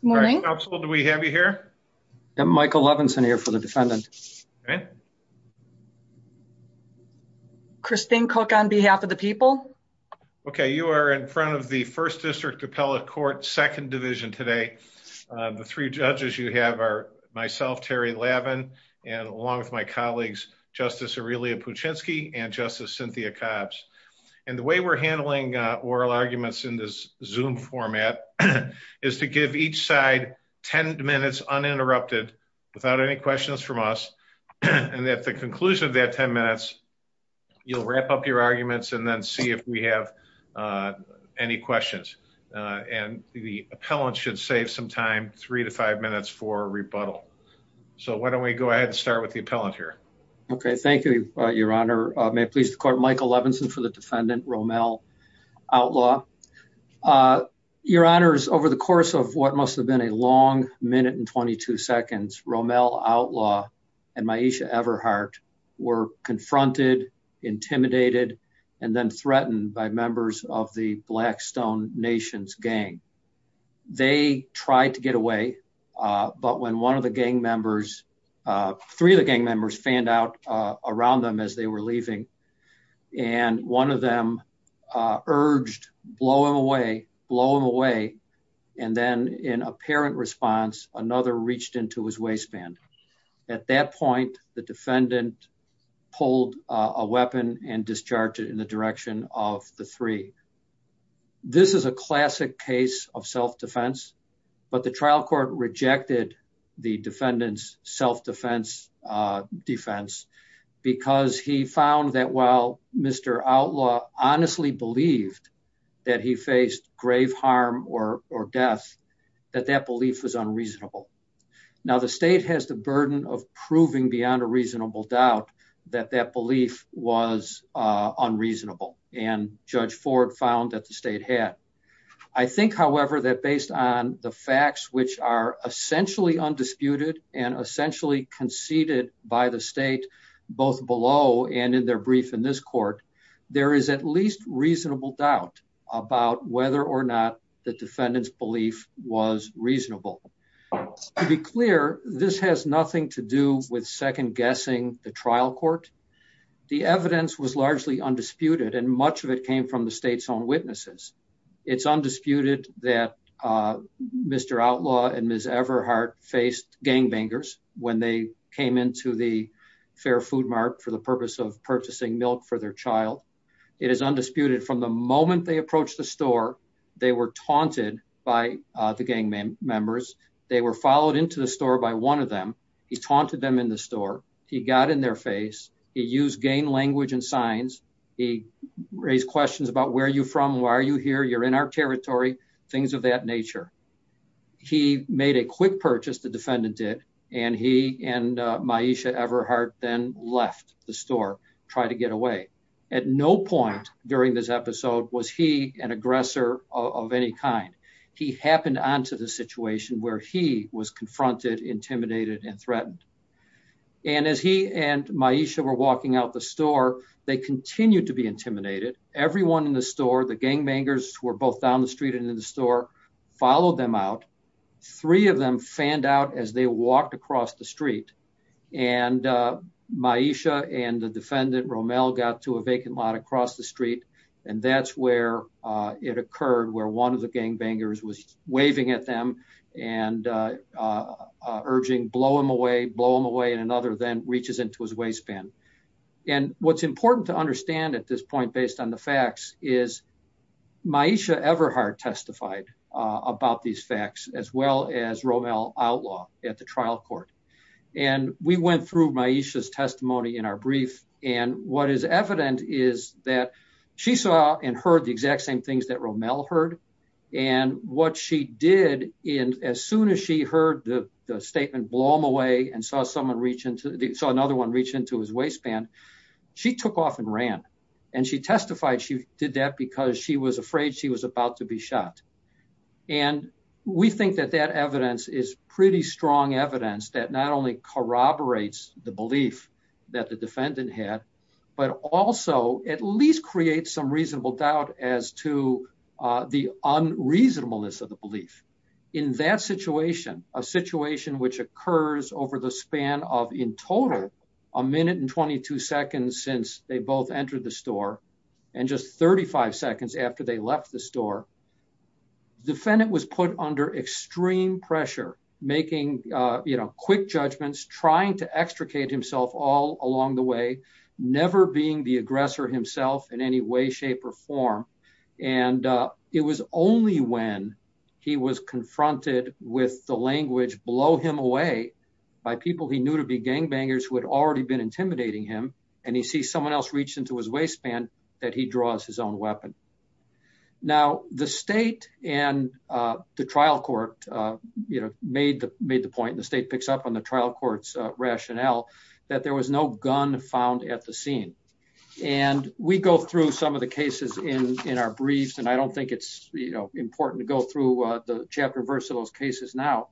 Good morning. Do we have you here? I'm Michael Levinson here for the defendant. Christine Cook on behalf of the people. Okay, you are in front of the 1st District Appellate Court, 2nd Division today. The three judges you have are myself, Terry Lavin, and along with my colleagues, Justice Aurelia Puchinski and Justice Cynthia Cobbs. And the way we're handling oral arguments in this Zoom format is to give each side 10 minutes uninterrupted without any questions from us. And at the conclusion of that 10 minutes, you'll wrap up your arguments and then see if we have any questions. And the appellant should save some time, three to five minutes for rebuttal. So why don't we go ahead and start with the appellant here. Okay, thank you, Your Honor. May it please the court, Michael Levinson for the defendant, Romel Outlaw. Your Honor, over the course of what must have been a long minute and 22 seconds, Romel Outlaw and Myesha Everhart were confronted, intimidated, and then threatened by members of the Blackstone Nations gang. They tried to get away. But when one of the gang members, three of the gang members fanned out around them as they were leaving, and one of them urged, blow him away, blow him away. And then in apparent response, another reached into his waistband. At that point, the defendant pulled a weapon and discharged it in the direction of the three. This is a classic case of self-defense, but the trial court rejected the defendant's self-defense defense because he found that while Mr. Outlaw honestly believed that he faced grave harm or death, that that belief was unreasonable. Now, the state has the burden of proving beyond a reasonable doubt that that belief was unreasonable. And Judge Ford found that the state had. I think, however, that based on the facts which are essentially undisputed and essentially conceded by the state, both below and in their brief in this court, there is at least reasonable doubt about whether or not the defendant's belief was reasonable. To be clear, this has nothing to do with second guessing the trial court. The evidence was largely undisputed and much of it came from the state's own witnesses. It's undisputed that Mr. Outlaw and Ms. Everhart faced gangbangers when they came into the Fair Food Mart for the purpose of purchasing milk for their child. It is undisputed from the moment they approached the store, they were taunted by the gang members. They were followed into the store by one of them. He taunted them in the store. He got in their face. He used gang language and signs. He raised questions about where are you from? Why are you here? You're in our territory. Things of that nature. He made a quick purchase, the defendant did, and he and Maisha Everhart then left the store, tried to get away. At no point during this episode was he an aggressor of any kind. He happened on to the situation where he was confronted, intimidated, and threatened. And as he and Maisha were walking out the store, they continued to be intimidated. Everyone in the store, the gangbangers were both down the street and in the store, followed them out. Three of them fanned out as they walked across the street. Maisha and the defendant, Romel, got to a vacant lot across the street. And that's where it occurred, where one of the gangbangers was waving at them and urging, blow him away, blow him away. And another then reaches into his waistband. And what's important to understand at this point, based on the facts, is Maisha Everhart testified about these facts, as well as Romel Outlaw at the trial court. And we went through Maisha's testimony in our brief. And what is evident is that she saw and heard the exact same things that Romel heard. And what she did, as soon as she heard the statement, blow him away, and saw another one reach into his waistband, she took off and ran. And she testified she did that because she was afraid she was about to be shot. And we think that that evidence is pretty strong evidence that not only corroborates the belief that the defendant had, but also at least creates some reasonable doubt as to the unreasonableness of the belief. In that situation, a situation which occurs over the span of, in total, a minute and 22 seconds since they both entered the store, and just 35 seconds after they left the store, the defendant was put under extreme pressure, making quick judgments, trying to extricate himself all along the way, never being the aggressor himself in any way, shape, or form. And it was only when he was confronted with the language, blow him away, by people he knew to be gangbangers who had already been intimidating him, and he sees someone else reach into his waistband, that he draws his own weapon. Now, the state and the trial court, you know, made the point, the state picks up on the trial court's rationale, that there was no gun found at the scene. And we go through some of the cases in our briefs, and I don't think it's, you know, important to go through the chapter verse of those cases now.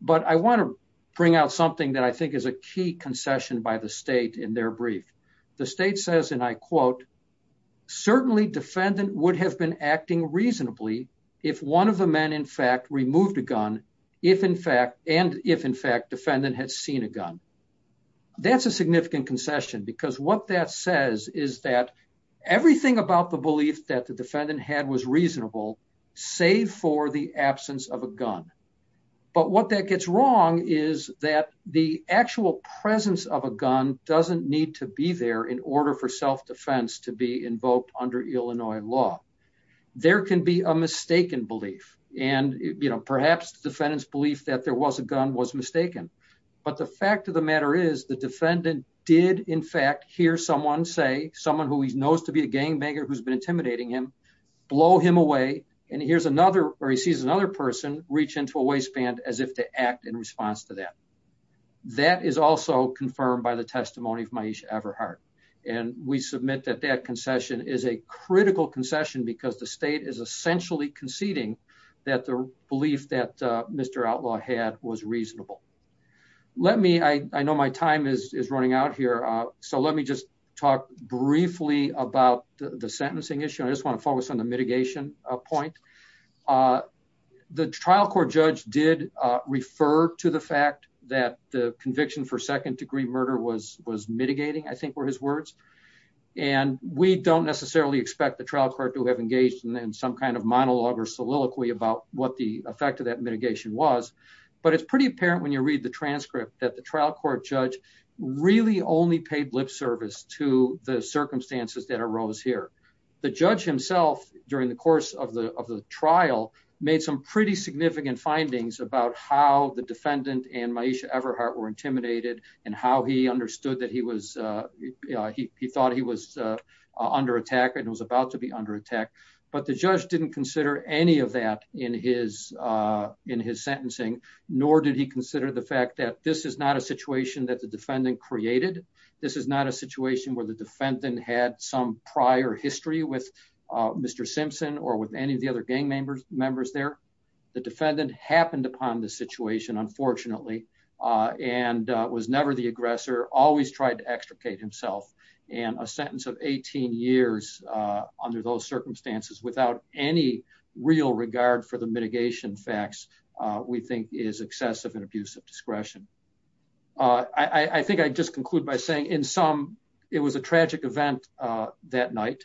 But I want to bring out something that I think is a key concession by the state in their brief. The state says, and I quote, That's a significant concession, because what that says is that everything about the belief that the defendant had was reasonable, save for the absence of a gun. There can be a mistaken belief, and, you know, perhaps the defendant's belief that there was a gun was mistaken. But the fact of the matter is, the defendant did, in fact, hear someone say, someone who he knows to be a gangbanger who's been intimidating him, blow him away, and here's another, or he sees another person reach into a waistband as if to act in response to that. That is also confirmed by the testimony of Maisha Everhart. And we submit that that concession is a critical concession because the state is essentially conceding that the belief that Mr. Outlaw had was reasonable. Let me, I know my time is running out here. So let me just talk briefly about the sentencing issue. I just want to focus on the mitigation point. The trial court judge did refer to the fact that the conviction for second degree murder was mitigating, I think, were his words. And we don't necessarily expect the trial court to have engaged in some kind of monologue or soliloquy about what the effect of that mitigation was. But it's pretty apparent when you read the transcript that the trial court judge really only paid lip service to the circumstances that arose here. The judge himself, during the course of the trial, made some pretty significant findings about how the defendant and Maisha Everhart were intimidated and how he understood that he was, he thought he was under attack and was about to be under attack. But the judge didn't consider any of that in his in his sentencing, nor did he consider the fact that this is not a situation that the defendant created. This is not a situation where the defendant had some prior history with Mr. Simpson or with any of the other gang members members there. The defendant happened upon the situation, unfortunately, and was never the aggressor always tried to extricate himself and a sentence of 18 years under those circumstances without any real regard for the mitigation facts, we think is excessive and abusive discretion. I think I just conclude by saying in some, it was a tragic event that night.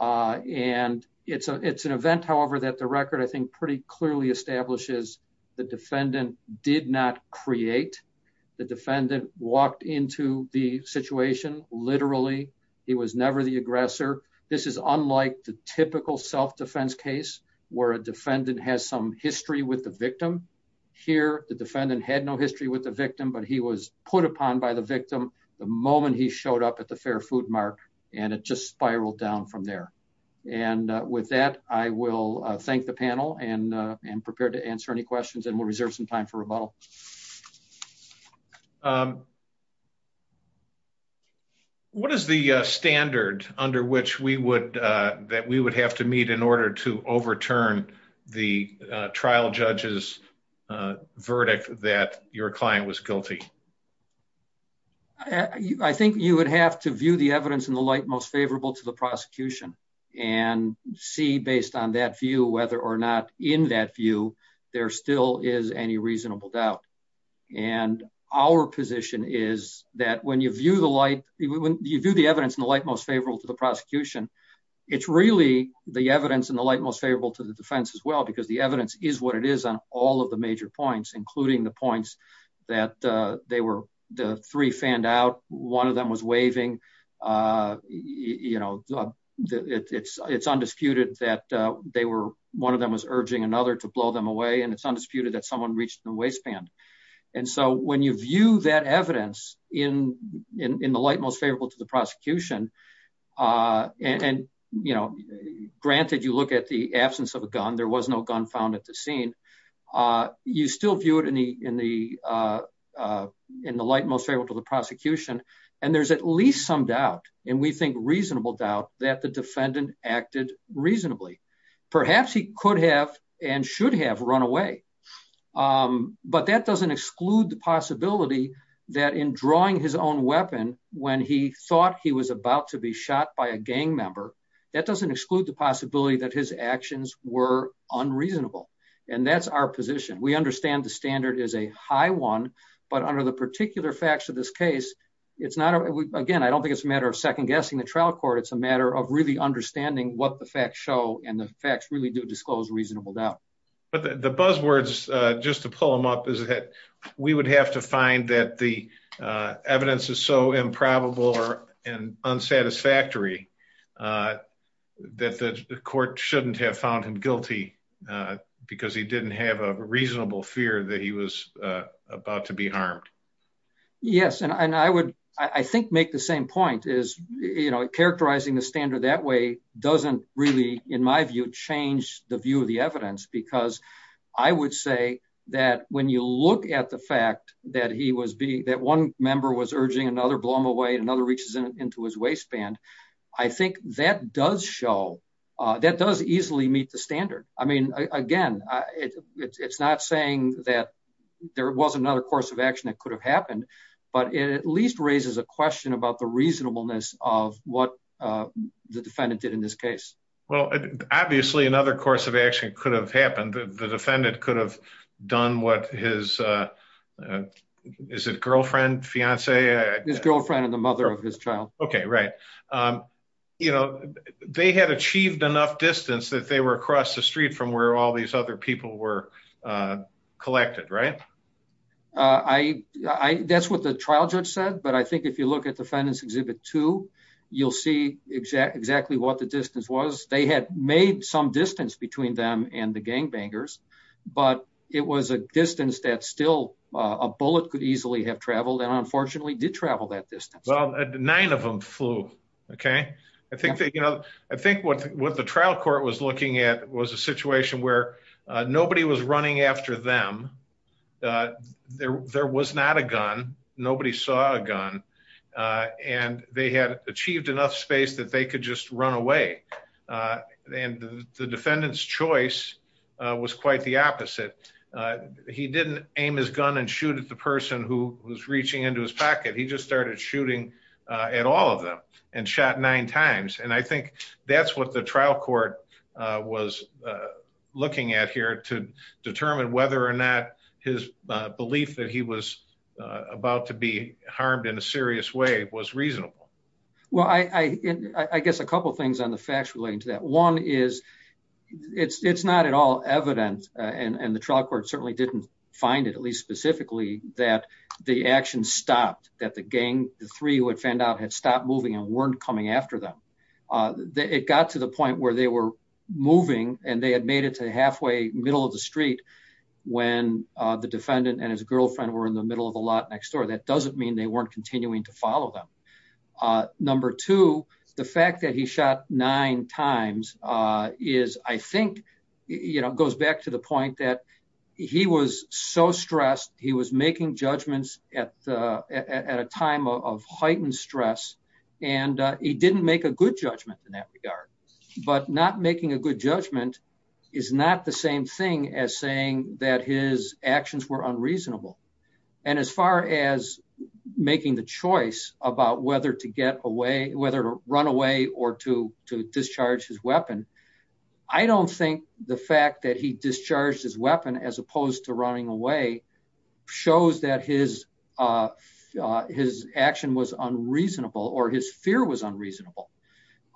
And it's a it's an event however that the record I think pretty clearly establishes the defendant did not create the defendant walked into the situation, literally, he was never the aggressor. This is unlike the typical self defense case where a defendant has some history with the victim. Here, the defendant had no history with the victim but he was put upon by the victim. The moment he showed up at the Fair Food Mart, and it just spiraled down from there. And with that, I will thank the panel and and prepared to answer any questions and we'll reserve some time for rebuttal. What is the standard under which we would that we would have to meet in order to overturn the trial judges verdict that your client was guilty. I think you would have to view the evidence in the light most favorable to the prosecution and see based on that view whether or not in that view, there still is any reasonable doubt. And our position is that when you view the light, when you view the evidence in the light most favorable to the prosecution. It's really the evidence in the light most favorable to the defense as well because the evidence is what it is on all of the major points, including the points that they were the three fanned out, one of them was waving. You know, it's it's undisputed that they were one of them was urging another to blow them away and it's undisputed that someone reached the waistband. And so when you view that evidence in in the light most favorable to the prosecution. And, you know, granted, you look at the absence of a gun, there was no gun found at the scene. You still view it in the, in the, in the light most favorable to the prosecution. And there's at least some doubt, and we think reasonable doubt that the defendant acted reasonably. Perhaps he could have and should have run away. But that doesn't exclude the possibility that in drawing his own weapon. When he thought he was about to be shot by a gang member. That doesn't exclude the possibility that his actions were unreasonable. And that's our position we understand the standard is a high one. But under the particular facts of this case, it's not again I don't think it's a matter of second guessing the trial court, it's a matter of really understanding what the facts show and the facts really do disclose reasonable doubt. But the buzzwords, just to pull them up is that we would have to find that the evidence is so improbable or an unsatisfactory that the court shouldn't have found him guilty, because he didn't have a reasonable fear that he was about to be harmed. Yes, and I would, I think, make the same point is, you know, characterizing the standard that way, doesn't really, in my view, change the view of the evidence because I would say that when you look at the fact that he was being that one member was urging another blow him away and another reaches into his waistband. I think that does show that does easily meet the standard. I mean, again, it's not saying that there was another course of action that could have happened, but it at least raises a question about the reasonableness of what the defendant did in this case. Well, obviously another course of action could have happened, the defendant could have done what his, is it girlfriend, fiance? His girlfriend and the mother of his child. Okay, right. You know, they had achieved enough distance that they were across the street from where all these other people were collected, right? I, that's what the trial judge said, but I think if you look at defendants Exhibit Two, you'll see exactly what the distance was. They had made some distance between them and the gangbangers, but it was a distance that still a bullet could easily have traveled and unfortunately did travel that distance. Well, nine of them flew. Okay. I think that, you know, I think what the trial court was looking at was a situation where nobody was running after them. There was not a gun. Nobody saw a gun. And they had achieved enough space that they could just run away. And the defendant's choice was quite the opposite. He didn't aim his gun and shoot at the person who was reaching into his pocket. He just started shooting at all of them and shot nine times and I think that's what the trial court was looking at here to determine whether or not his belief that he was about to be harmed in a serious way was reasonable. Well, I guess a couple things on the facts relating to that one is it's not at all evident and the trial court certainly didn't find it at least specifically that the action stopped that the gang, the three would find out had stopped moving and weren't coming after them. It got to the point where they were moving, and they had made it to halfway middle of the street. When the defendant and his girlfriend were in the middle of a lot next door that doesn't mean they weren't continuing to follow them. Number two, the fact that he shot nine times is I think, you know, goes back to the point that he was so stressed, he was making judgments at a time of heightened stress, and he didn't make a good judgment in that regard, but not making a good judgment is not the same thing as saying that his actions were unreasonable. And as far as making the choice about whether to run away or to discharge his weapon, I don't think the fact that he discharged his weapon as opposed to running away shows that his action was unreasonable or his fear was unreasonable.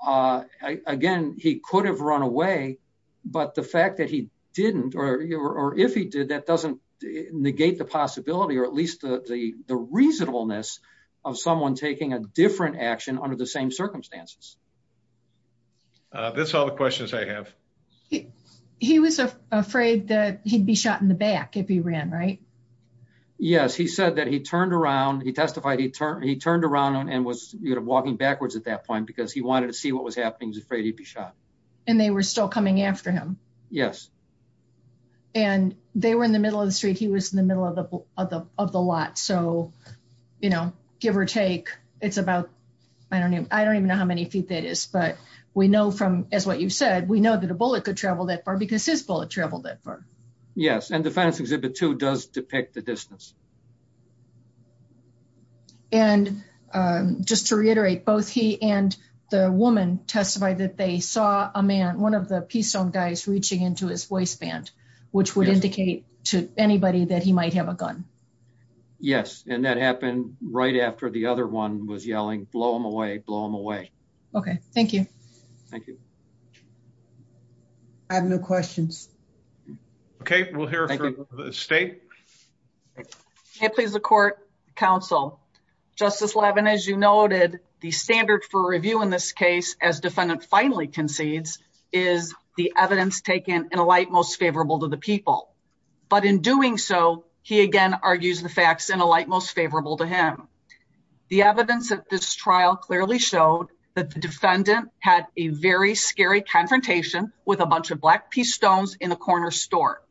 Again, he could have run away, but the fact that he didn't or if he did that doesn't negate the possibility or at least the reasonableness of someone taking a different action under the same circumstances. That's all the questions I have. He was afraid that he'd be shot in the back if he ran right. Yes, he said that he turned around, he testified, he turned around and was walking backwards at that point because he wanted to see what was happening, he was afraid he'd be shot. And they were still coming after him. Yes. And they were in the middle of the street, he was in the middle of the lot, so, you know, give or take, it's about, I don't even know how many feet that is, but we know from, as what you said, we know that a bullet could travel that far because his bullet traveled that far. Yes, and the Fence Exhibit 2 does depict the distance. And just to reiterate, both he and the woman testified that they saw a man, one of the Pistone guys reaching into his waistband, which would indicate to anybody that he might have a gun. Yes, and that happened right after the other one was yelling, blow him away, blow him away. Okay, thank you. Thank you. I have no questions. Okay, we'll hear from the State. May it please the Court, Counsel. Justice Levin, as you noted, the standard for review in this case, as defendant finally concedes, is the evidence taken in a light most favorable to the people. But in doing so, he again argues the facts in a light most favorable to him. The evidence of this trial clearly showed that the defendant had a very scary confrontation with a bunch of Black Pistones in a corner store.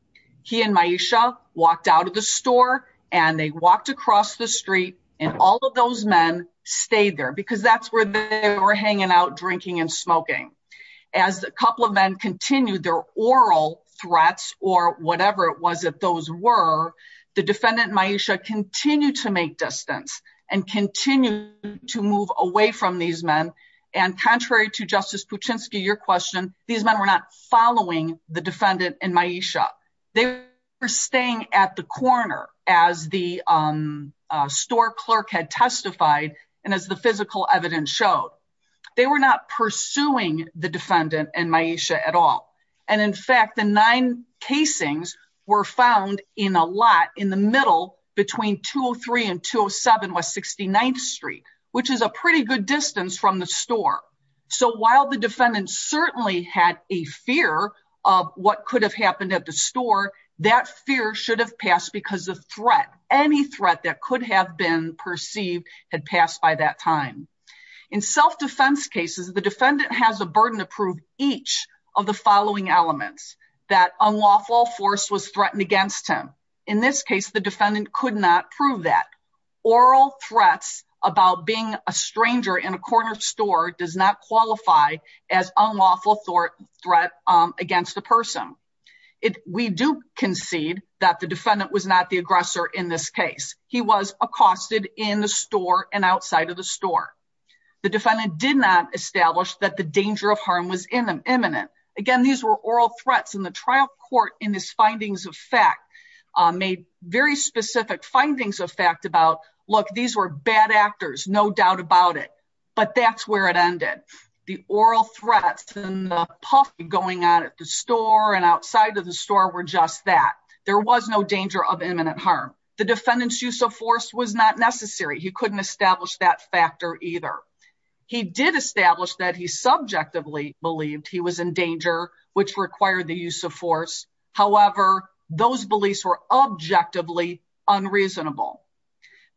He and Myesha walked out of the store, and they walked across the street, and all of those men stayed there because that's where they were hanging out drinking and smoking. As a couple of men continued their oral threats, or whatever it was that those were, the defendant Myesha continued to make distance and continue to move away from these men. And contrary to Justice Puchinsky, your question, these men were not following the defendant and Myesha. They were staying at the corner as the store clerk had testified, and as the physical evidence showed. They were not pursuing the defendant and Myesha at all. And in fact, the nine casings were found in a lot in the middle between 203 and 207 West 69th Street, which is a pretty good distance from the store. So while the defendant certainly had a fear of what could have happened at the store, that fear should have passed because of threat. Any threat that could have been perceived had passed by that time. In self-defense cases, the defendant has a burden to prove each of the following elements that unlawful force was threatened against him. In this case, the defendant could not prove that. Oral threats about being a stranger in a corner store does not qualify as unlawful threat against a person. We do concede that the defendant was not the aggressor in this case. He was accosted in the store and outside of the store. The defendant did not establish that the danger of harm was imminent. Again, these were oral threats in the trial court in this findings of fact, made very specific findings of fact about, look, these were bad actors, no doubt about it. But that's where it ended. The oral threats and the puff going on at the store and outside of the store were just that. There was no danger of imminent harm. The defendant's use of force was not necessary. He couldn't establish that factor either. He did establish that he subjectively believed he was in danger, which required the use of force. However, those beliefs were objectively unreasonable.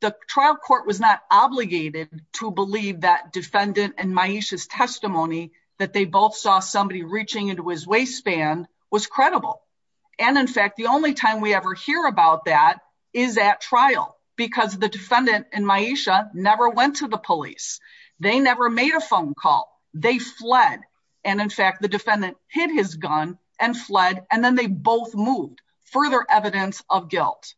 The trial court was not obligated to believe that defendant and Maisha's testimony that they both saw somebody reaching into his waistband was credible. And in fact, the only time we ever hear about that is at trial because the defendant and Maisha never went to the police. They never made a phone call. They fled. And in fact, the defendant hid his gun and fled, and then they both moved. Further evidence of guilt.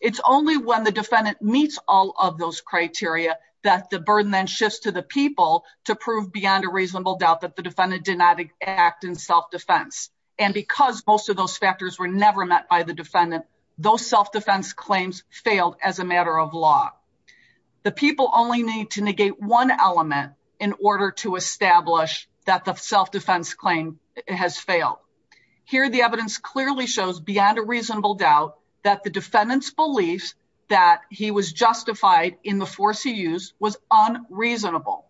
It's only when the defendant meets all of those criteria that the burden then shifts to the people to prove beyond a reasonable doubt that the defendant did not act in self-defense. And because most of those factors were never met by the defendant, those self-defense claims failed as a matter of law. The people only need to negate one element in order to establish that the self-defense claim has failed. Here, the evidence clearly shows beyond a reasonable doubt that the defendant's belief that he was justified in the force he used was unreasonable.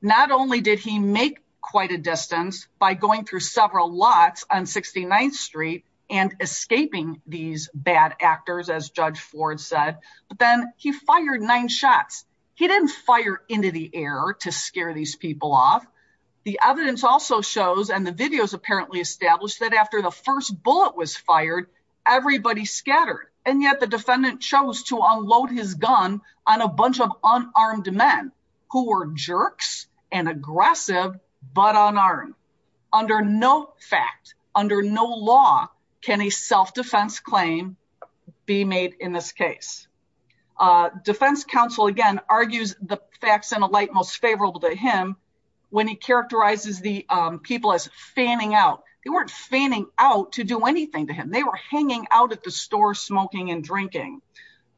Not only did he make quite a distance by going through several lots on 69th Street and escaping these bad actors, as Judge Ford said, but then he fired nine shots. He didn't fire into the air to scare these people off. The evidence also shows and the videos apparently established that after the first bullet was fired, everybody scattered. And yet the defendant chose to unload his gun on a bunch of unarmed men who were jerks and aggressive, but unarmed. Under no fact, under no law, can a self-defense claim be made in this case. Defense counsel, again, argues the facts in a light most favorable to him when he characterizes the people as fanning out. They weren't fanning out to do anything to him. They were hanging out at the store smoking and drinking.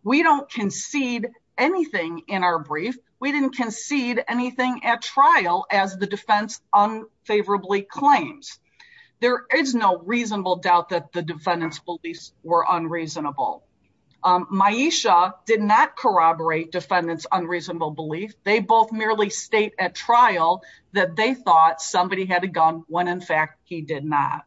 We don't concede anything in our brief. We didn't concede anything at trial as the defense unfavorably claims. There is no reasonable doubt that the defendant's beliefs were unreasonable. Myesha did not corroborate defendant's unreasonable belief. They both merely state at trial that they thought somebody had a gun when in fact he did not.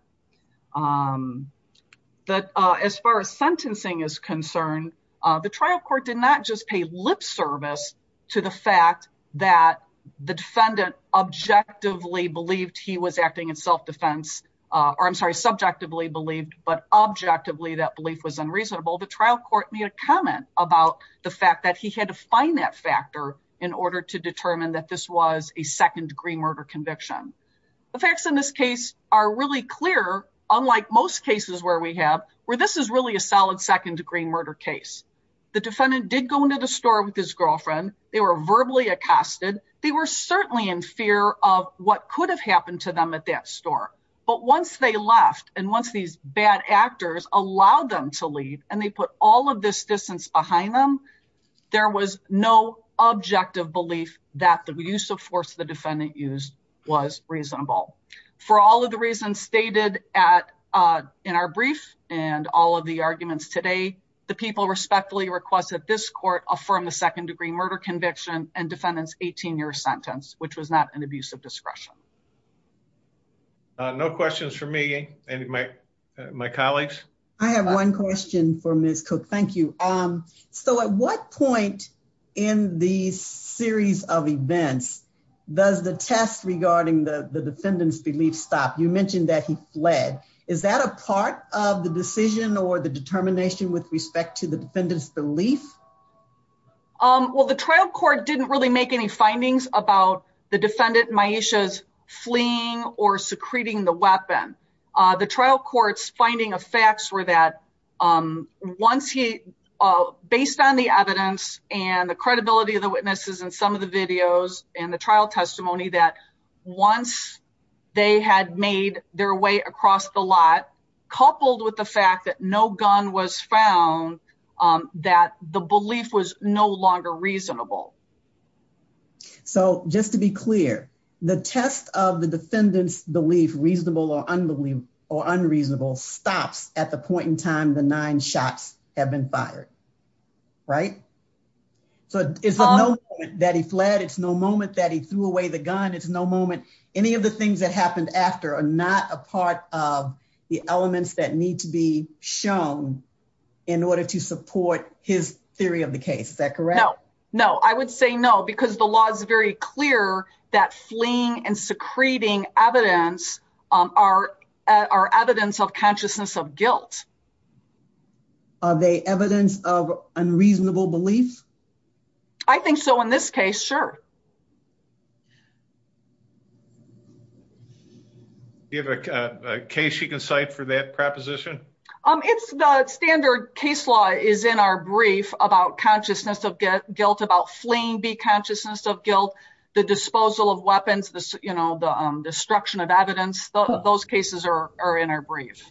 But as far as sentencing is concerned, the trial court did not just pay lip service to the fact that the defendant objectively believed he was acting in self-defense. Or I'm sorry, subjectively believed, but objectively that belief was unreasonable. The trial court made a comment about the fact that he had to find that factor in order to determine that this was a second degree murder conviction. The facts in this case are really clear, unlike most cases where we have, where this is really a solid second degree murder case. The defendant did go into the store with his girlfriend. They were verbally accosted. They were certainly in fear of what could have happened to them at that store. But once they left and once these bad actors allowed them to leave and they put all of this distance behind them, there was no objective belief that the use of force the defendant used was reasonable. For all of the reasons stated in our brief and all of the arguments today, the people respectfully request that this court affirm the second degree murder conviction and defendant's 18 year sentence, which was not an abuse of discretion. No questions for me and my colleagues. I have one question for Ms. Cook. Thank you. So at what point in the series of events does the test regarding the defendant's belief stop? You mentioned that he fled. Is that a part of the decision or the determination with respect to the defendant's belief? Well, the trial court didn't really make any findings about the defendant, Maisha's fleeing or secreting the weapon. The trial court's finding of facts were that once he, based on the evidence and the credibility of the witnesses and some of the videos and the trial testimony that once they had made their way across the lot, coupled with the fact that no gun was found, that the belief was no longer reasonable. So just to be clear, the test of the defendant's belief, reasonable or unreasonable, stops at the point in time the nine shots have been fired. Right? So it's not that he fled. It's no moment that he threw away the gun. It's no moment. Any of the things that happened after are not a part of the elements that need to be shown in order to support his theory of the case. Is that correct? No. No. I would say no, because the law is very clear that fleeing and secreting evidence are evidence of consciousness of guilt. Are they evidence of unreasonable belief? I think so in this case, sure. Do you have a case you can cite for that proposition? It's the standard case law is in our brief about consciousness of guilt, about fleeing the consciousness of guilt, the disposal of weapons, the destruction of evidence. Those cases are in our brief.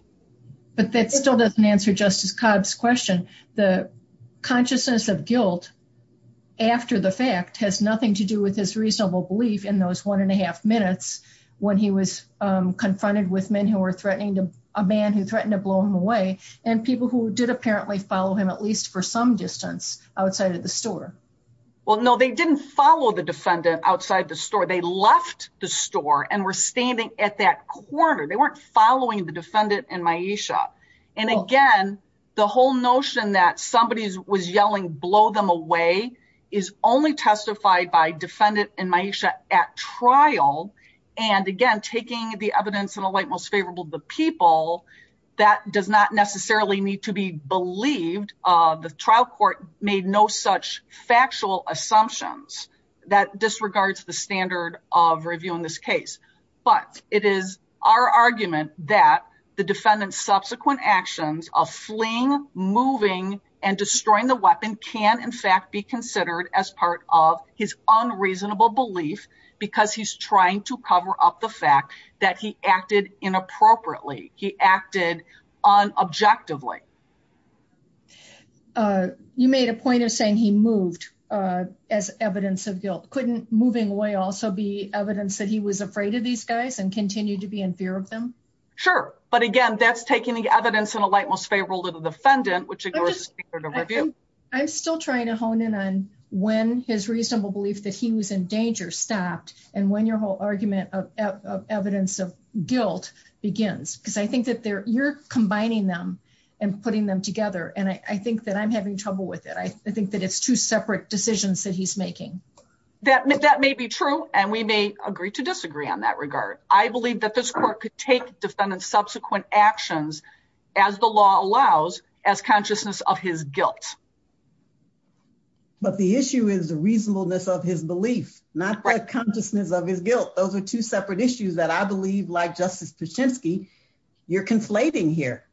But that still doesn't answer Justice Cobb's question. The consciousness of guilt after the fact has nothing to do with his reasonable belief in those one and a half minutes when he was confronted with men who were threatening to a man who threatened to blow him away and people who did apparently follow him, at least for some distance outside of the store. Well, no, they didn't follow the defendant outside the store. They left the store and were standing at that corner. They weren't following the defendant in my shop. And again, the whole notion that somebody was yelling, blow them away is only testified by defendant in my shop at trial. And again, taking the evidence in a light most favorable to the people that does not necessarily need to be believed. The trial court made no such factual assumptions that disregards the standard of review in this case. But it is our argument that the defendant's subsequent actions of fleeing, moving and destroying the weapon can in fact be considered as part of his unreasonable belief because he's trying to cover up the fact that he acted inappropriately. He acted on objectively. You made a point of saying he moved as evidence of guilt. Couldn't moving away also be evidence that he was afraid of these guys and continue to be in fear of them? Sure. But again, that's taking the evidence in a light most favorable to the defendant, which ignores the standard of review. I'm still trying to hone in on when his reasonable belief that he was in danger stopped and when your whole argument of evidence of guilt begins, because I think that you're combining them and putting them together. And I think that I'm having trouble with it. I think that it's two separate decisions that he's making. That may be true, and we may agree to disagree on that regard. I believe that this court could take defendant's subsequent actions as the law allows as consciousness of his guilt. But the issue is the reasonableness of his belief, not the consciousness of his guilt. Those are two separate issues that I believe, like Justice Pichinsky, you're conflating here.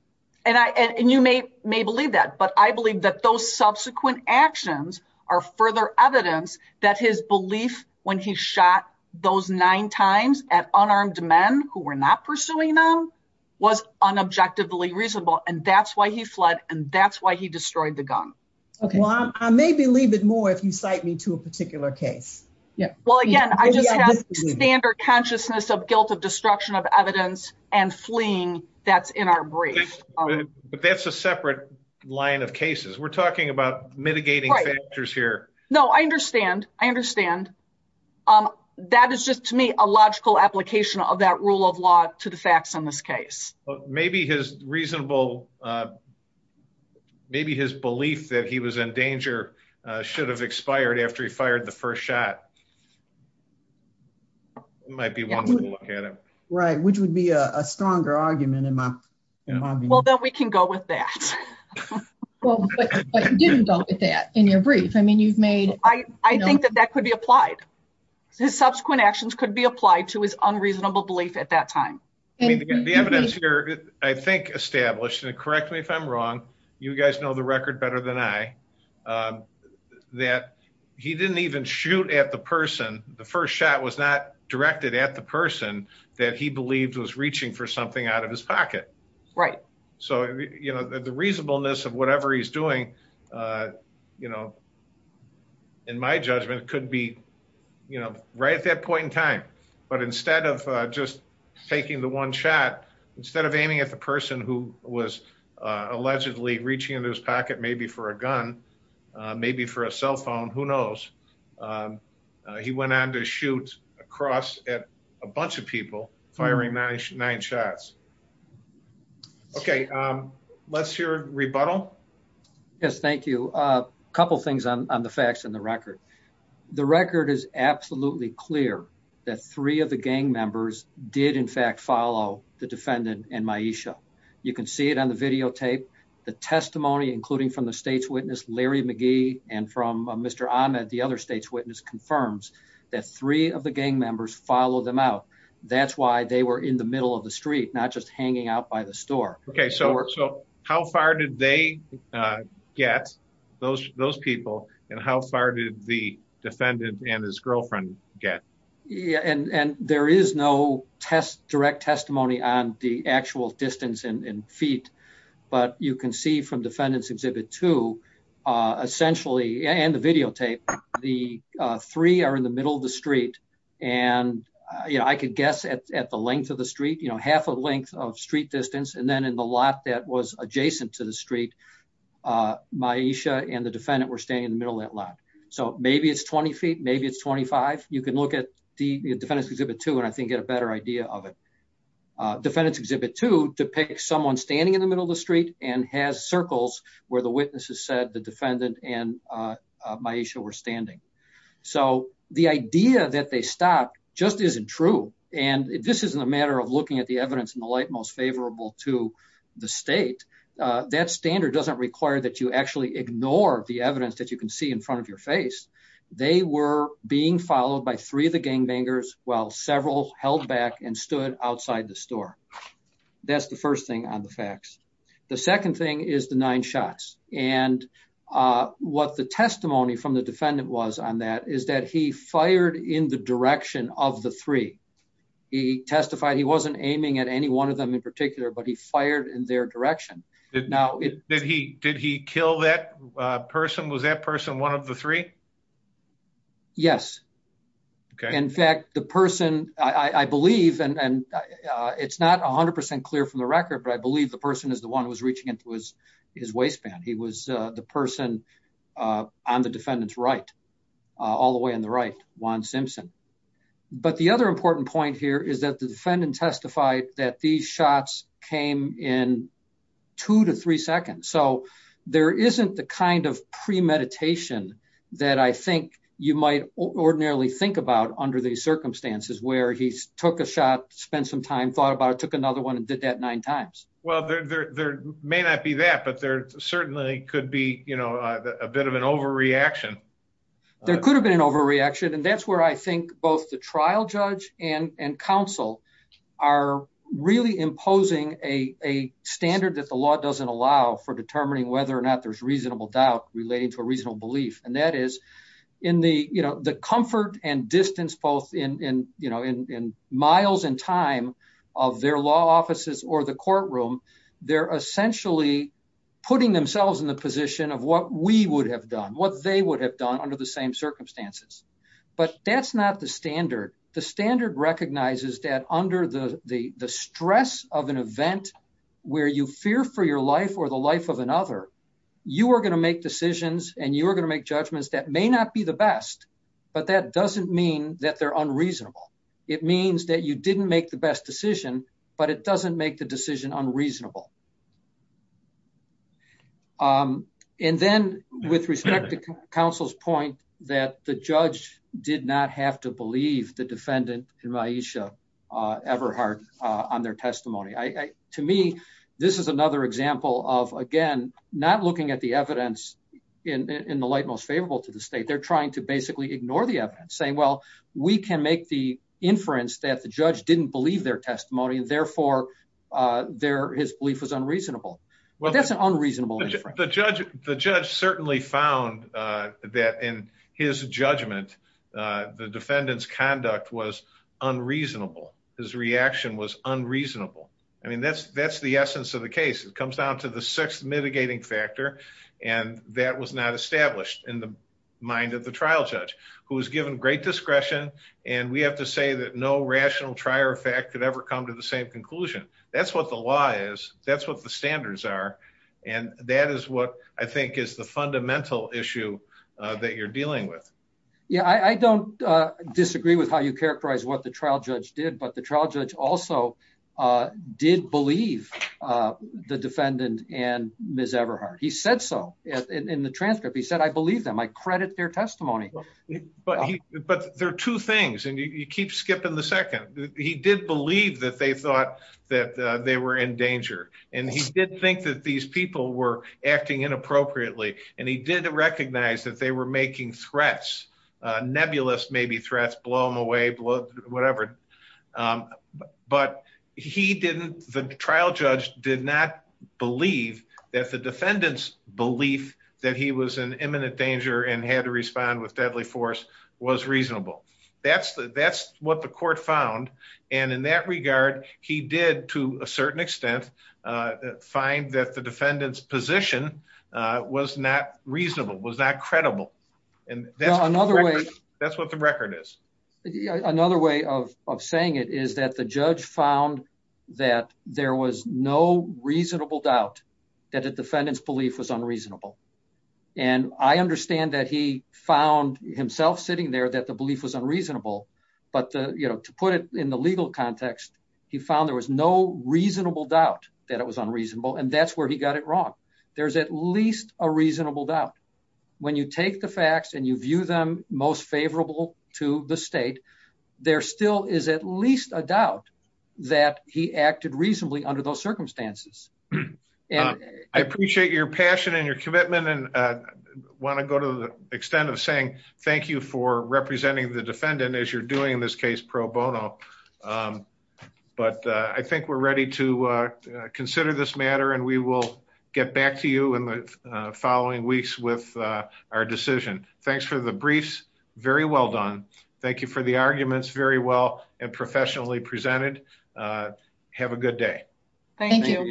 And you may believe that, but I believe that those subsequent actions are further evidence that his belief when he shot those nine times at unarmed men who were not pursuing them was unobjectively reasonable. And that's why he fled. And that's why he destroyed the gun. Well, I may believe it more if you cite me to a particular case. Well, again, I just have standard consciousness of guilt of destruction of evidence and fleeing that's in our brief. But that's a separate line of cases. We're talking about mitigating factors here. No, I understand. I understand. That is just to me a logical application of that rule of law to the facts in this case. Maybe his reasonable. Maybe his belief that he was in danger should have expired after he fired the first shot. Might be one look at him. Right, which would be a stronger argument in my. Well, then we can go with that. Didn't go with that in your brief. I mean, you've made. I think that that could be applied. His subsequent actions could be applied to his unreasonable belief at that time. I mean, the evidence here, I think, established and correct me if I'm wrong. You guys know the record better than I. That he didn't even shoot at the person. The first shot was not directed at the person that he believed was reaching for something out of his pocket. Right. So, you know, the reasonableness of whatever he's doing. You know, in my judgment, it could be, you know, right at that point in time. But instead of just taking the one shot, instead of aiming at the person who was allegedly reaching into his pocket, maybe for a gun, maybe for a cell phone, who knows. He went on to shoot across at a bunch of people firing 99 shots. Okay, let's hear rebuttal. Yes, thank you. A couple things on the facts and the record. The record is absolutely clear that three of the gang members did in fact follow the defendant and my issue. You can see it on the videotape. The testimony, including from the state's witness, Larry McGee and from Mr. Ahmed, the other state's witness confirms that three of the gang members follow them out. That's why they were in the middle of the street, not just hanging out by the store. Okay, so how far did they get, those people, and how far did the defendant and his girlfriend get? And there is no direct testimony on the actual distance in feet. But you can see from defendant's exhibit two, essentially, and the videotape, the three are in the middle of the street. And, you know, I could guess at the length of the street, you know, half a length of street distance and then in the lot that was adjacent to the street, my issue and the defendant were staying in the middle of that lot. So maybe it's 20 feet, maybe it's 25. You can look at the defendant's exhibit two and I think get a better idea of it. Defendant's exhibit two depicts someone standing in the middle of the street and has circles where the witnesses said the defendant and my issue were standing. So the idea that they stopped just isn't true. And this isn't a matter of looking at the evidence in the light most favorable to the state. That standard doesn't require that you actually ignore the evidence that you can see in front of your face. They were being followed by three of the gangbangers while several held back and stood outside the store. That's the first thing on the facts. The second thing is the nine shots. And what the testimony from the defendant was on that is that he fired in the direction of the three. He testified he wasn't aiming at any one of them in particular, but he fired in their direction. Did he kill that person? Was that person one of the three? Yes. In fact, the person I believe and it's not 100% clear from the record, but I believe the person is the one who was reaching into his waistband. He was the person on the defendant's right all the way on the right one Simpson. But the other important point here is that the defendant testified that these shots came in two to three seconds. So there isn't the kind of premeditation that I think you might ordinarily think about under these circumstances where he took a shot, spent some time, thought about it, took another one and did that nine times. Well, there may not be that, but there certainly could be a bit of an overreaction. There could have been an overreaction. And that's where I think both the trial judge and counsel are really imposing a standard that the law doesn't allow for determining whether or not there's reasonable doubt relating to a reasonable belief. And that is in the comfort and distance, both in miles and time of their law offices or the courtroom, they're essentially putting themselves in the position of what we would have done, what they would have done under the same circumstances. But that's not the standard. The standard recognizes that under the stress of an event where you fear for your life or the life of another, you are going to make decisions and you are going to make judgments that may not be the best. But that doesn't mean that they're unreasonable. It means that you didn't make the best decision, but it doesn't make the decision unreasonable. And then with respect to counsel's point that the judge did not have to believe the defendant in my issue ever hard on their testimony. To me, this is another example of, again, not looking at the evidence in the light most favorable to the state. They're trying to basically ignore the evidence saying, well, we can make the inference that the judge didn't believe their testimony and therefore their his belief was unreasonable. Well, that's an unreasonable. The judge certainly found that in his judgment, the defendant's conduct was unreasonable. His reaction was unreasonable. I mean, that's the essence of the case. It comes down to the sixth mitigating factor, and that was not established in the mind of the trial judge, who was given great discretion. And we have to say that no rational trier fact could ever come to the same conclusion. That's what the law is. That's what the standards are. And that is what I think is the fundamental issue that you're dealing with. Yeah, I don't disagree with how you characterize what the trial judge did, but the trial judge also did believe the defendant and Miss Everhart. He said so in the transcript. He said, I believe them. I credit their testimony. But there are two things, and you keep skipping the second. He did believe that they thought that they were in danger, and he did think that these people were acting inappropriately. And he did recognize that they were making threats, nebulous maybe threats, blow them away, whatever. But he didn't. The trial judge did not believe that the defendant's belief that he was in imminent danger and had to respond with deadly force was reasonable. That's what the court found. And in that regard, he did, to a certain extent, find that the defendant's position was not reasonable, was not credible. That's what the record is. Another way of saying it is that the judge found that there was no reasonable doubt that the defendant's belief was unreasonable. And I understand that he found himself sitting there that the belief was unreasonable. But to put it in the legal context, he found there was no reasonable doubt that it was unreasonable, and that's where he got it wrong. There's at least a reasonable doubt. When you take the facts and you view them most favorable to the state, there still is at least a doubt that he acted reasonably under those circumstances. I appreciate your passion and your commitment and want to go to the extent of saying thank you for representing the defendant as you're doing in this case pro bono. But I think we're ready to consider this matter and we will get back to you in the following weeks with our decision. Thanks for the briefs. Very well done. Thank you for the arguments. Very well and professionally presented. Have a good day.